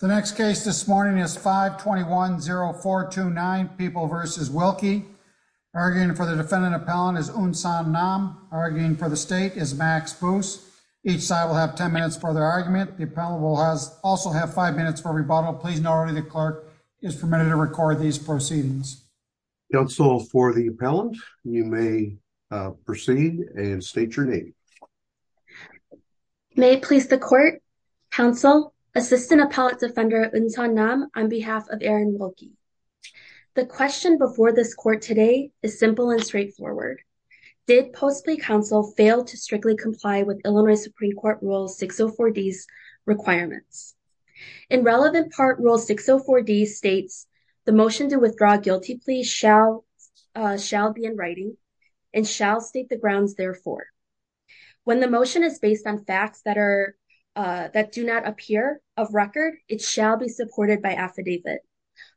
The next case this morning is 521-0429, People v. Wilkey. Arguing for the defendant appellant is Unsan Nam. Arguing for the state is Max Boos. Each side will have 10 minutes for their argument. The appellant will also have 5 minutes for rebuttal. Please know already the clerk is permitted to record these proceedings. Counsel for the appellant, you may proceed and state your name. Counsel for the appellant, you may proceed and state your name. May it please the court, Counsel, Assistant Appellant Defender Unsan Nam on behalf of Aaron Wilkey. The question before this court today is simple and straightforward. Did Post Plea Counsel fail to strictly comply with Illinois Supreme Court Rule 604D's requirements? In relevant part, Rule 604D states the motion to withdraw guilty plea shall be in writing and shall state the grounds therefore. When the motion is based on facts that do not appear of record, it shall be supported by affidavit.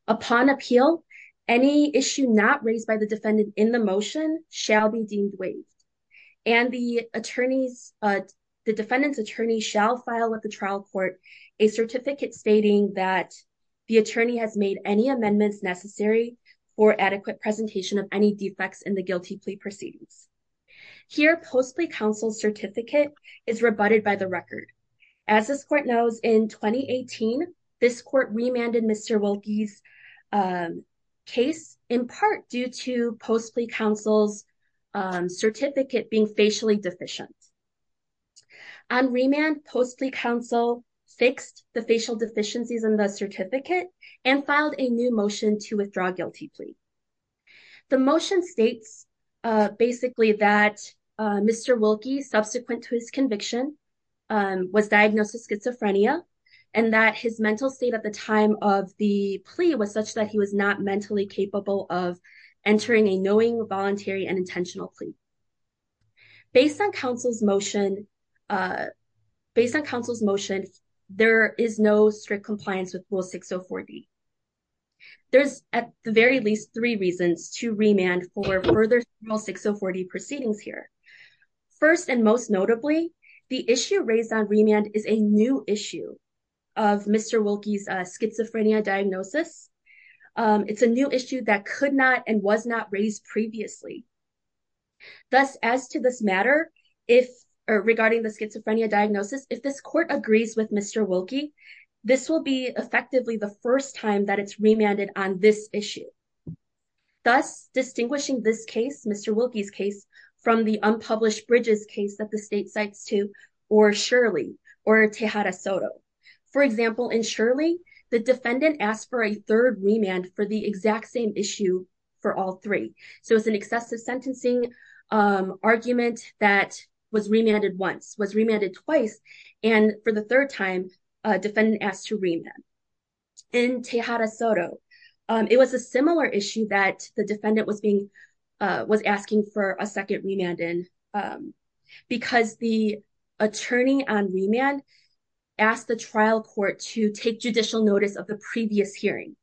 Upon appeal, any issue not raised by the defendant in the motion shall be deemed waived. And the defendant's attorney shall file at the trial court a certificate stating that the attorney has made any amendments necessary for adequate presentation of any defects in the guilty plea proceedings. Here, Post Plea Counsel's certificate is rebutted by the record. As this court knows, in 2018, this court remanded Mr. Wilkey's case in part due to Post Plea Counsel's certificate being facially deficient. On remand, Post Plea Counsel fixed the facial deficiencies in the certificate and filed a new motion to The motion states basically that Mr. Wilkey, subsequent to his conviction, was diagnosed with schizophrenia and that his mental state at the time of the plea was such that he was not mentally capable of entering a knowing, voluntary, and intentional plea. Based on counsel's motion, there is no strict compliance with Rule 604D. There's at the very least three reasons to remand for further Rule 604D proceedings here. First and most notably, the issue raised on remand is a new issue of Mr. Wilkey's schizophrenia diagnosis. It's a new issue that could not and was not raised previously. Thus, as to this matter, regarding the schizophrenia diagnosis, if this court agrees with Mr. Wilkey, this will be effectively the first time that it's remanded on this issue. Thus, distinguishing this case, Mr. Wilkey's case, from the unpublished Bridges case that the state cites to or Shirley or Tejada Soto. For example, in Shirley, the defendant asked for a third remand for the exact same issue for all three. So, it's an excessive sentencing argument that was remanded twice, and for the third time, a defendant asked to remand. In Tejada Soto, it was a similar issue that the defendant was asking for a second remand in because the attorney on remand asked the trial court to take judicial notice of the previous hearing.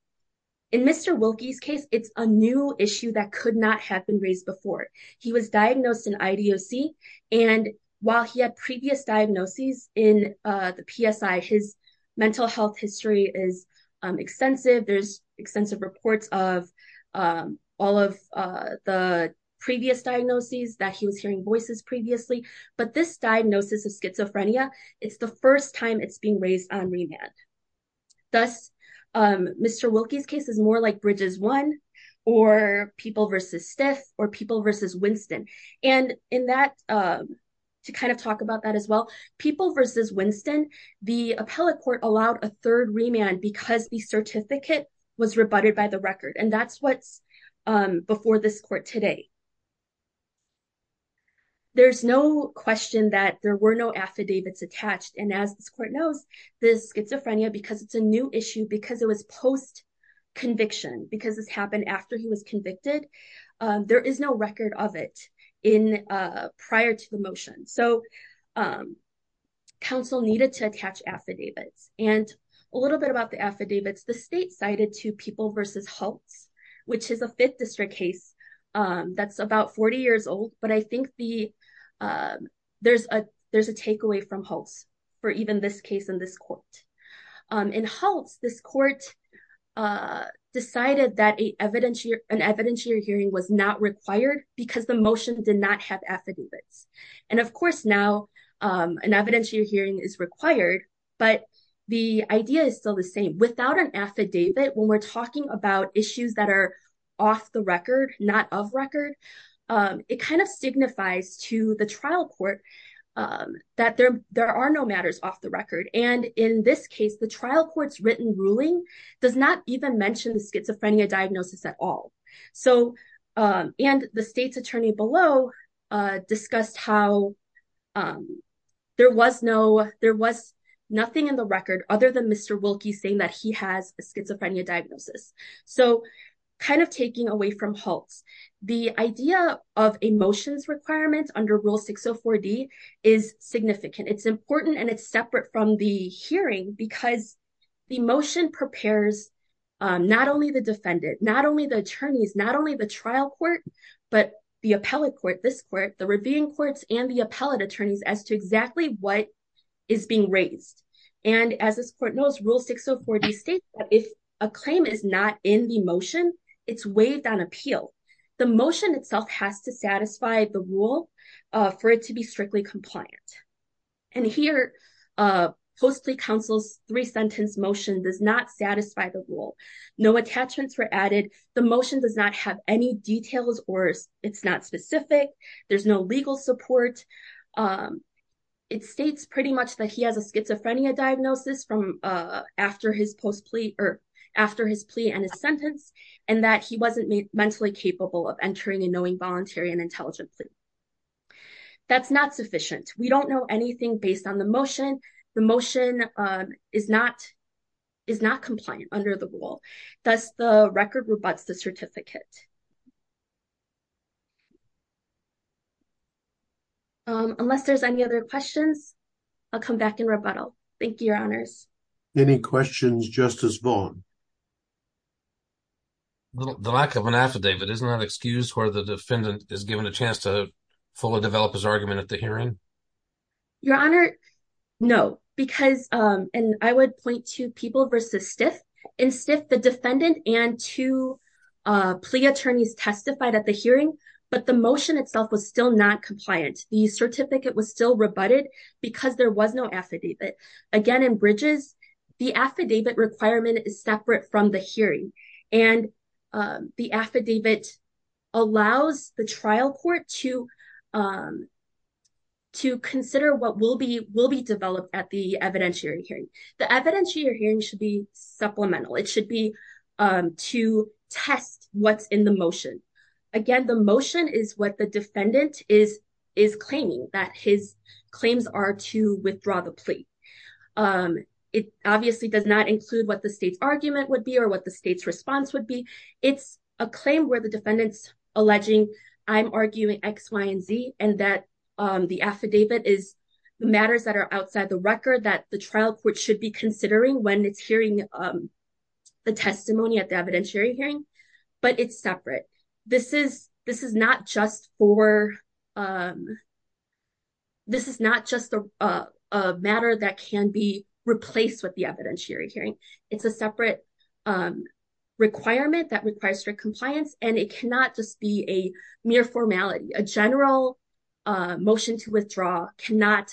In Mr. Wilkey's case, it's a new issue that could not have been raised before. He was diagnosed in IDOC, and while he had previous diagnoses in the PSI, his mental health history is extensive. There's extensive reports of all of the previous diagnoses that he was hearing voices previously, but this diagnosis of schizophrenia, it's the first time it's being raised on remand. Thus, Mr. Wilkey's case is more like Bridges 1, or People v. Stiff, or People v. Winston. And in that, to kind of talk about that as well, People v. Winston, the appellate court allowed a third remand because the certificate was rebutted by the record, and that's what's before this court today. There's no question that there were no affidavits attached, and as this court knows, this schizophrenia, because it's a new issue, because it was post-conviction, because this happened after he was convicted, there is no record of it prior to the motion. So, counsel needed to attach affidavits, and a little bit about the affidavits, the state cited to People v. Holtz, which is a 5th district case that's about 40 years old, but I think there's a takeaway from Holtz for even this case in this court. In Holtz, this court decided that an evidentiary hearing was not required because the motion did not have affidavits. And of course now, an evidentiary hearing is required, but the idea is still the same. Without an affidavit, when we're talking about issues that are off the record, not of record, it kind of signifies to the trial court that there are no matters off the record, and in this case, the trial court's written ruling does not even mention the schizophrenia diagnosis at all. And the state's attorney below discussed how there was nothing in the record other than Mr. Wilkie saying that he has a schizophrenia diagnosis. So, kind of taking away from Holtz, the idea of a motion's requirement under Rule 604D is significant. It's important, and it's separate from the hearing because the motion prepares not only the defendant, not only the attorneys, not only the trial court, but the appellate court, this court, the reviewing courts, and the appellate attorneys as to exactly what is being raised. And as this motion itself has to satisfy the rule for it to be strictly compliant. And here, post-plea counsel's three-sentence motion does not satisfy the rule. No attachments were added. The motion does not have any details or it's not specific. There's no legal support. It states pretty much that he has a schizophrenia diagnosis from after his plea and his sentence, and that he wasn't mentally capable of entering and knowing voluntary and intelligence. That's not sufficient. We don't know anything based on the motion. The motion is not compliant under the rule. Thus, the record rebuts the certificate. Unless there's any other questions, I'll come back and rebuttal. Thank you, Your Honors. Any questions, Justice Vaughn? The lack of an affidavit, isn't that excused where the defendant is given a chance to fully develop his argument at the hearing? Your Honor, no, because, and I would point to people versus Stiff. In Stiff, the defendant and two plea attorneys testified at the hearing, but the motion itself was still not compliant. The certificate was still rebutted because there was no affidavit. Again, in Bridges, the affidavit requirement is separate from the hearing. The affidavit allows the trial court to consider what will be developed at the evidentiary hearing. The evidentiary hearing should be supplemental. It should be to test what's in the motion. Again, the motion is what the defendant is claiming, that his claims are to withdraw the plea. It obviously does not include what the state's argument would be or what the state's response would be. It's a claim where the defendant's alleging, I'm arguing X, Y, and Z, and that the affidavit is matters that are outside the record that the trial court should be considering. This is not just a matter that can be replaced with the evidentiary hearing. It's a separate requirement that requires strict compliance, and it cannot just be a mere formality. A general motion to withdraw cannot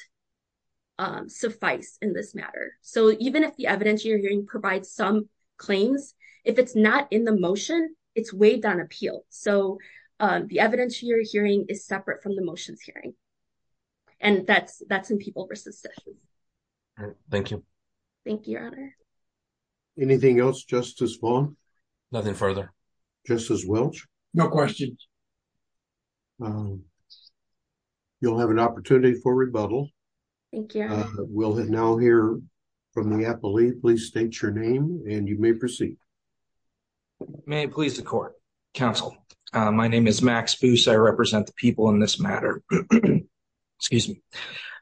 suffice in this matter. Even if the evidentiary hearing is separate from the motions hearing, and that's in people versus session. Thank you. Thank you, your honor. Anything else, Justice Vaughn? Nothing further. Justice Welch? No questions. You'll have an opportunity for rebuttal. Thank you. We'll now hear from the appellee. Please state your name, and you may proceed. May it please the court. Counsel, my name is Max Boos. I represent the people in this matter. Excuse me.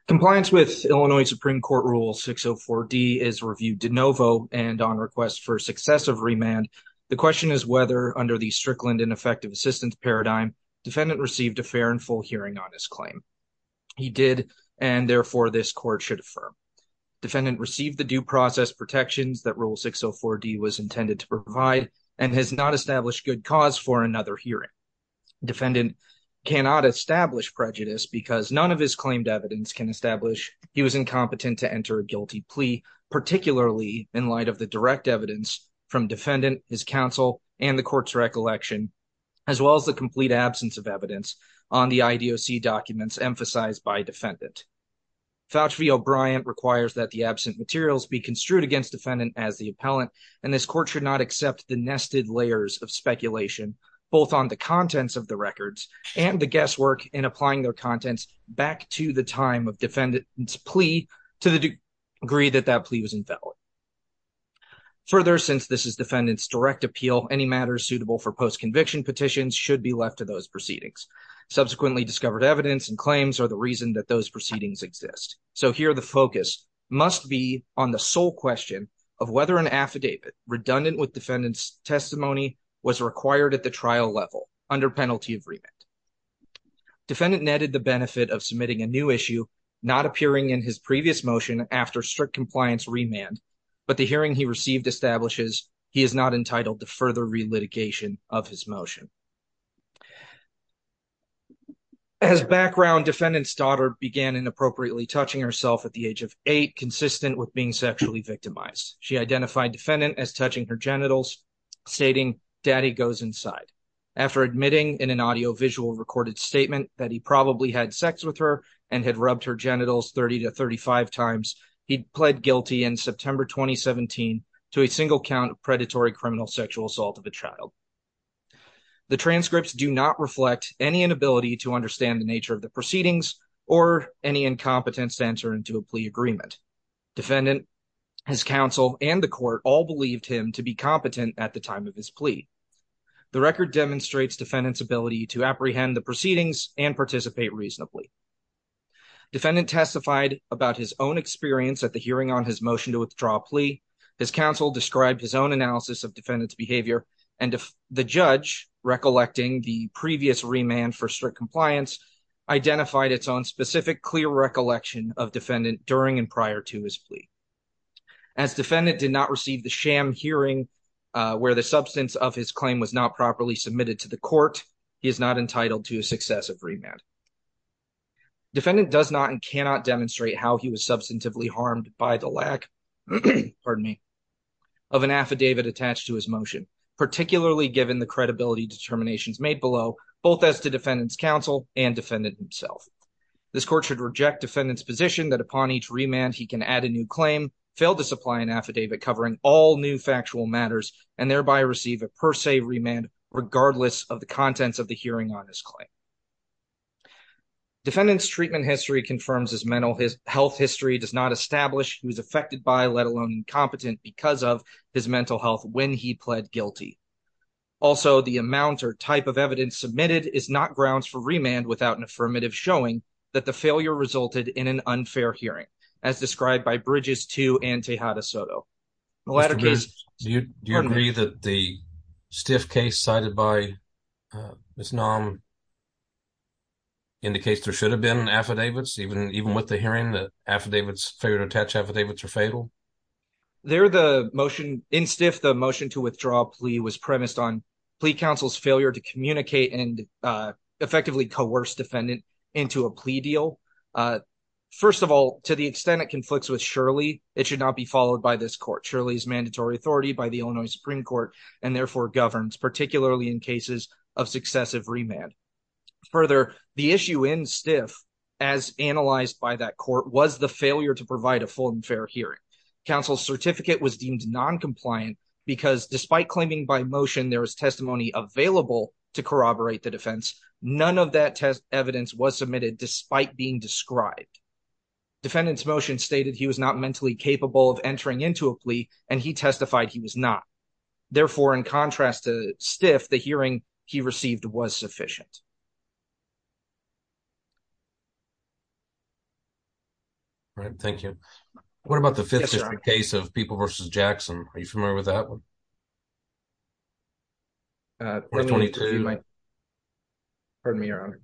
Compliance with Illinois Supreme Court Rule 604D is reviewed de novo and on request for successive remand. The question is whether, under the strickland ineffective assistance paradigm, defendant received a fair and full hearing on his claim. He did, and therefore this court should affirm. Defendant received the due process protections that Rule 604D was intended to for another hearing. Defendant cannot establish prejudice because none of his claimed evidence can establish he was incompetent to enter a guilty plea, particularly in light of the direct evidence from defendant, his counsel, and the court's recollection, as well as the complete absence of evidence on the IDOC documents emphasized by defendant. Fauci v. O'Brien requires that the absent materials be construed against defendant as the appellant, and this court should not accept the nested layers of speculation, both on the contents of the records and the guesswork in applying their contents back to the time of defendant's plea to the degree that that plea was infallible. Further, since this is defendant's direct appeal, any matters suitable for post-conviction petitions should be left to those proceedings. Subsequently discovered evidence and claims are the reason that those proceedings exist. So here the focus must be on the sole question of whether an affidavit redundant with defendant's testimony was required at the trial level under penalty of remand. Defendant netted the benefit of submitting a new issue not appearing in his previous motion after strict compliance remand, but the hearing he received establishes he is not entitled to further relitigation of his motion. As background, defendant's daughter began inappropriately touching herself at the age of consistent with being sexually victimized. She identified defendant as touching her genitals, stating, daddy goes inside. After admitting in an audio-visual recorded statement that he probably had sex with her and had rubbed her genitals 30 to 35 times, he pled guilty in September 2017 to a single count of predatory criminal sexual assault of a child. The transcripts do not reflect any inability to understand the nature of the proceedings or any incompetence to answer into agreement. Defendant, his counsel, and the court all believed him to be competent at the time of his plea. The record demonstrates defendant's ability to apprehend the proceedings and participate reasonably. Defendant testified about his own experience at the hearing on his motion to withdraw plea. His counsel described his own analysis of defendant's behavior and the judge recollecting the previous remand for strict compliance identified its own specific clear recollection of defendant during and prior to his plea. As defendant did not receive the sham hearing where the substance of his claim was not properly submitted to the court, he is not entitled to a successive remand. Defendant does not and cannot demonstrate how he was substantively harmed by the lack, pardon me, of an affidavit attached to his motion, particularly given the credibility determinations made below, both as to defendant's counsel and defendant himself. This court should reject defendant's position that upon each remand he can add a new claim, fail to supply an affidavit covering all new factual matters, and thereby receive a per se remand regardless of the contents of the hearing on his claim. Defendant's treatment history confirms his mental health history does not establish he was affected by, let alone incompetent, because of his mental health when he pled guilty. Also, the amount or type of evidence submitted is not grounds for remand without an affirmative showing that the failure resulted in an unfair hearing, as described by Bridges II and Tejada Soto. In the latter case, do you agree that the stiff case cited by Ms. Naum indicates there should have been affidavits even with the hearing, the affidavits, failure to attach affidavits are fatal? There the motion, in stiff, the motion to withdraw plea was coerced defendant into a plea deal. First of all, to the extent it conflicts with Shirley, it should not be followed by this court. Shirley is mandatory authority by the Illinois Supreme Court and therefore governs, particularly in cases of successive remand. Further, the issue in stiff, as analyzed by that court, was the failure to provide a full and fair hearing. Counsel's certificate was deemed non-compliant because despite claiming by motion there was testimony available to corroborate the defense, none of that test evidence was submitted despite being described. Defendant's motion stated he was not mentally capable of entering into a plea and he testified he was not. Therefore, in contrast to stiff, the hearing he received was sufficient. All right, thank you. What about the fifth case of People v. Jackson? Are you familiar with that one? Or 22. Pardon me, your honor.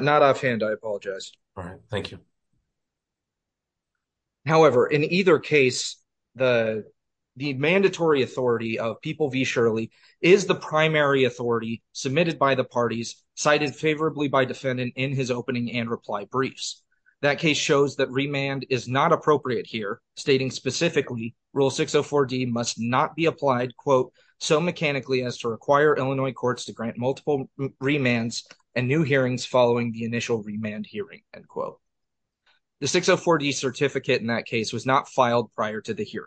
Not offhand, I apologize. All right, thank you. However, in either case, the mandatory authority of People v. Shirley is the primary authority submitted by the parties cited favorably by defendant in his opening and reply briefs. That case shows that remand is not appropriate here, stating specifically Rule 604D must not be applied, quote, so mechanically as to require Illinois courts to grant multiple remands and new hearings following the initial remand hearing, end quote. The 604D certificate in that case was not filed prior to the hearing.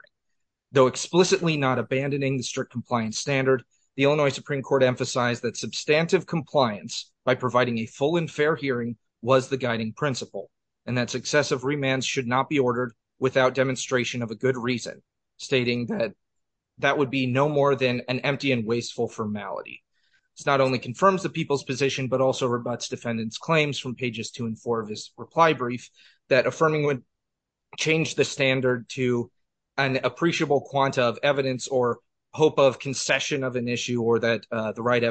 Though explicitly not abandoning the strict compliance standard, the Illinois Supreme Court emphasized that substantive compliance by providing a full and fair hearing was the guiding principle and that successive remands should not be ordered without demonstration of a good reason, stating that that would be no more than an empty and wasteful formality. It not only confirms the people's position, but also rebuts defendant's claims from pages two and four of his reply brief that affirming would change the standard to an appreciable quanta of evidence or hope of concession of an issue or that the right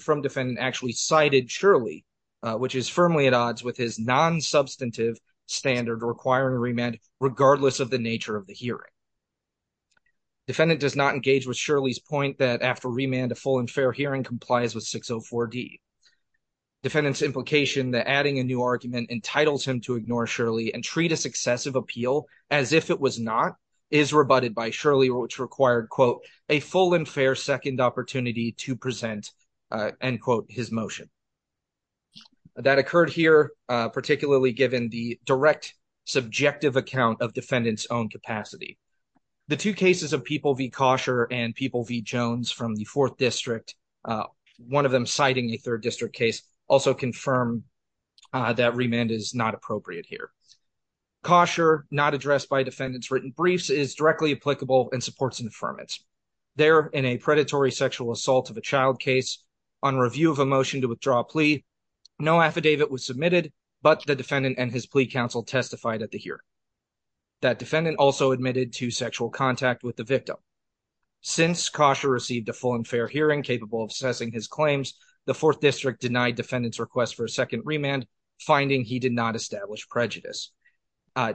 from defendant actually cited Shirley, which is firmly at odds with his non-substantive standard requiring remand regardless of the nature of the hearing. Defendant does not engage with Shirley's point that after remand a full and fair hearing complies with 604D. Defendant's implication that adding a new argument entitles him to ignore Shirley and treat a successive appeal as if it was not is rebutted by Shirley, which required, quote, a full and fair second opportunity to present, end quote, his motion. That occurred here particularly given the direct subjective account of defendant's own capacity. The two cases of People v. Kosher and People v. Jones from the fourth district, one of them citing a third district case, also confirm that remand is not appropriate here. Kosher, not addressed by defendant's written briefs, is directly applicable and supports affirmance. There, in a predatory sexual assault of a child case, on review of a motion to withdraw a plea, no affidavit was submitted, but the defendant and his plea counsel testified at the hearing. That defendant also admitted to sexual contact with the victim. Since Kosher received a full and fair hearing capable of assessing his claims, the fourth district denied defendant's request for a second remand, finding he did not establish prejudice.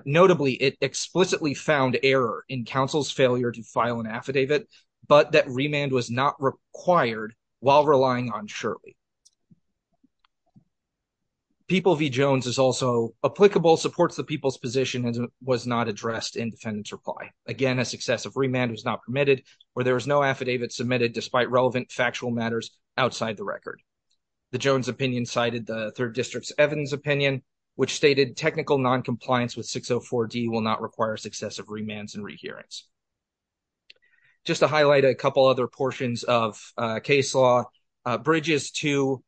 Notably, it explicitly found error in counsel's failure to file an affidavit, but that remand was not required while relying on Shirley. People v. Jones is also applicable, supports the people's position, and was not addressed in defendant's reply. Again, a successive remand was not permitted, or there was no affidavit submitted despite relevant factual matters outside the record. The Jones opinion cited the third district's Evans opinion, which stated technical non-compliance with 604D will not require successive remands and rehearings. Just to highlight a couple other portions of case law, Bridges too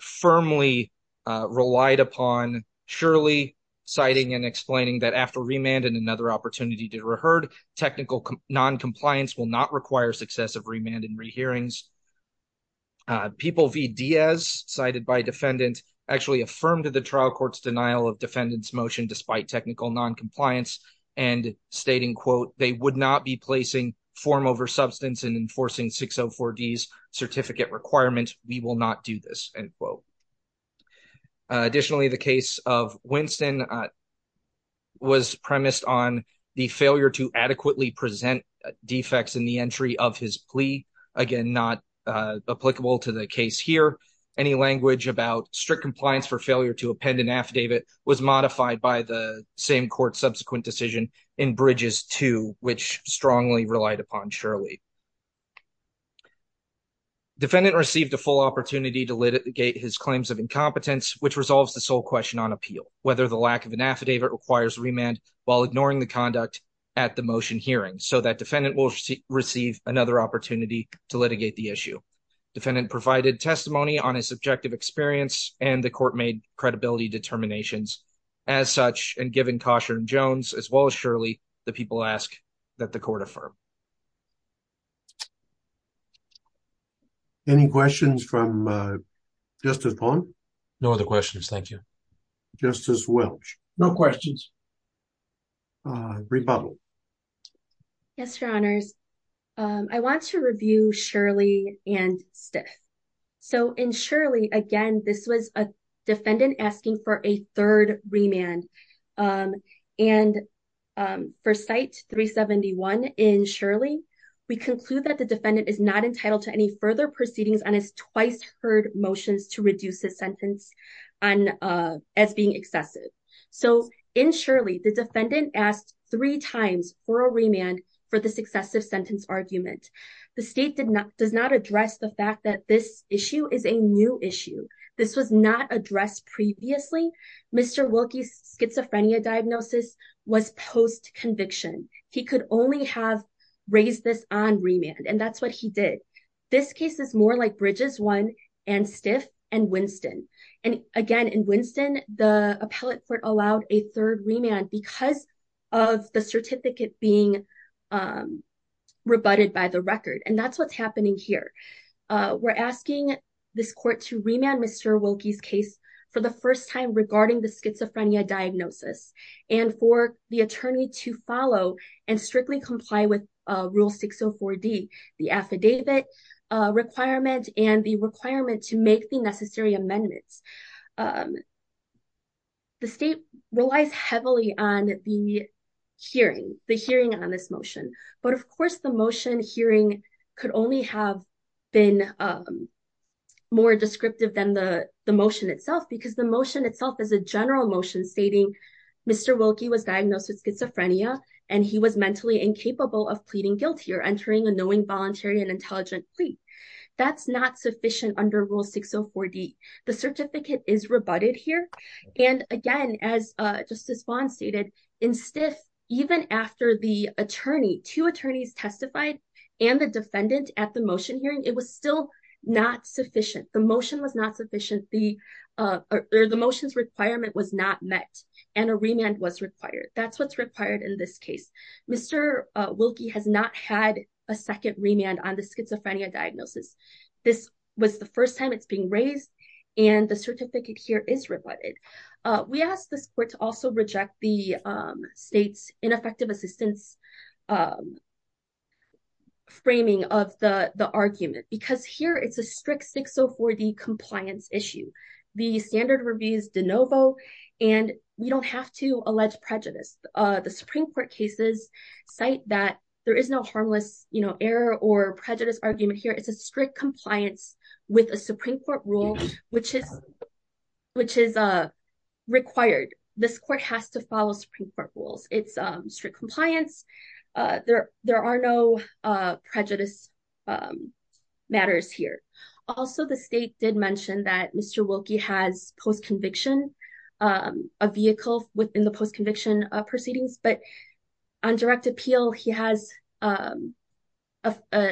firmly relied upon Shirley citing and explaining that after remand and another opportunity to reherd, technical non-compliance will not require successive remand and rehearings. People v. Diaz, cited by defendant, actually affirmed the trial court's denial of defendant's non-compliance and stating, quote, they would not be placing form over substance and enforcing 604D's certificate requirement. We will not do this, end quote. Additionally, the case of Winston was premised on the failure to adequately present defects in the entry of his plea. Again, not applicable to the case here. Any language about strict compliance for failure to append an subsequent decision in Bridges too, which strongly relied upon Shirley. Defendant received a full opportunity to litigate his claims of incompetence, which resolves the sole question on appeal, whether the lack of an affidavit requires remand while ignoring the conduct at the motion hearing, so that defendant will receive another opportunity to litigate the issue. Defendant provided testimony on his subjective experience and the court made credibility determinations. As such, and given caution, Jones, as well as Shirley, the people ask that the court affirm. Any questions from Justice Vaughn? No other questions, thank you. Justice Welch? No questions. Rebuttal. Yes, your honors. I want to review Shirley and Stiff. So in Shirley, again, this was a defendant asking for a third remand. And for site 371 in Shirley, we conclude that the defendant is not entitled to any further proceedings on his twice heard motions to reduce his sentence as being excessive. So in Shirley, the defendant asked three times for a remand for the successive sentence argument. The state does not address the fact that this issue is a new issue. This was not addressed previously. Mr. Wilkie's schizophrenia diagnosis was post conviction. He could only have raised this on remand, and that's what he did. This case is more like Bridges one and Stiff and Winston. And again, in Winston, the appellate court allowed a third remand because of the certificate being rebutted by the record. And that's what's happening here. We're asking this court to remand Mr. Wilkie's case for the first time regarding the schizophrenia diagnosis, and for the attorney to follow and strictly comply with Rule 604D, the affidavit requirement and the requirement to make the necessary amendments. The state relies heavily on the hearing, the hearing on this motion. But of course, the motion hearing could only have been more descriptive than the motion itself, because the motion itself is a general motion stating Mr. Wilkie was diagnosed with schizophrenia, and he was mentally incapable of pleading guilty or entering a knowing voluntary and intelligent plea. That's not sufficient under Rule 604D. The certificate is rebutted here. And again, as two attorneys testified, and the defendant at the motion hearing, it was still not sufficient. The motion was not sufficient. The motion's requirement was not met, and a remand was required. That's what's required in this case. Mr. Wilkie has not had a second remand on the schizophrenia diagnosis. This was the first time it's being raised, and the certificate here is states ineffective assistance framing of the argument, because here it's a strict 604D compliance issue. The standard reviews de novo, and we don't have to allege prejudice. The Supreme Court cases cite that there is no harmless error or prejudice argument here. It's a strict compliance with a Supreme Court rule, which is required. This court has to follow Supreme Court rules. It's strict compliance. There are no prejudice matters here. Also, the state did mention that Mr. Wilkie has post-conviction, a vehicle within the post-conviction proceedings, but on direct appeal, he has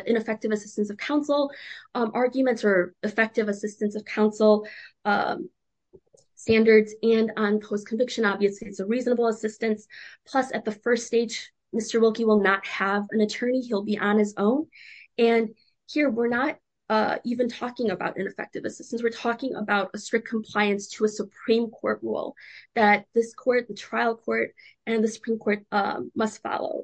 ineffective assistance of counsel arguments or effective assistance of counsel standards, and on post-conviction, obviously, it's a reasonable assistance. Plus, at the first stage, Mr. Wilkie will not have an attorney. He'll be on his own, and here we're not even talking about ineffective assistance. We're talking about a strict must follow.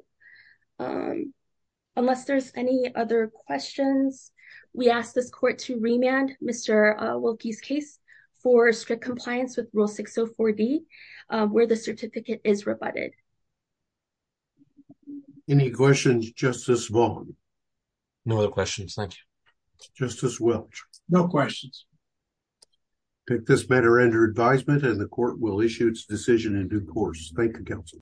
Unless there's any other questions, we ask this court to remand Mr. Wilkie's case for strict compliance with rule 604D, where the certificate is rebutted. Any questions, Justice Wong? No other questions. Thank you. Justice Welch? No questions. Take this matter under advisement, and the court will issue its decision in due course. Thank you, counsel.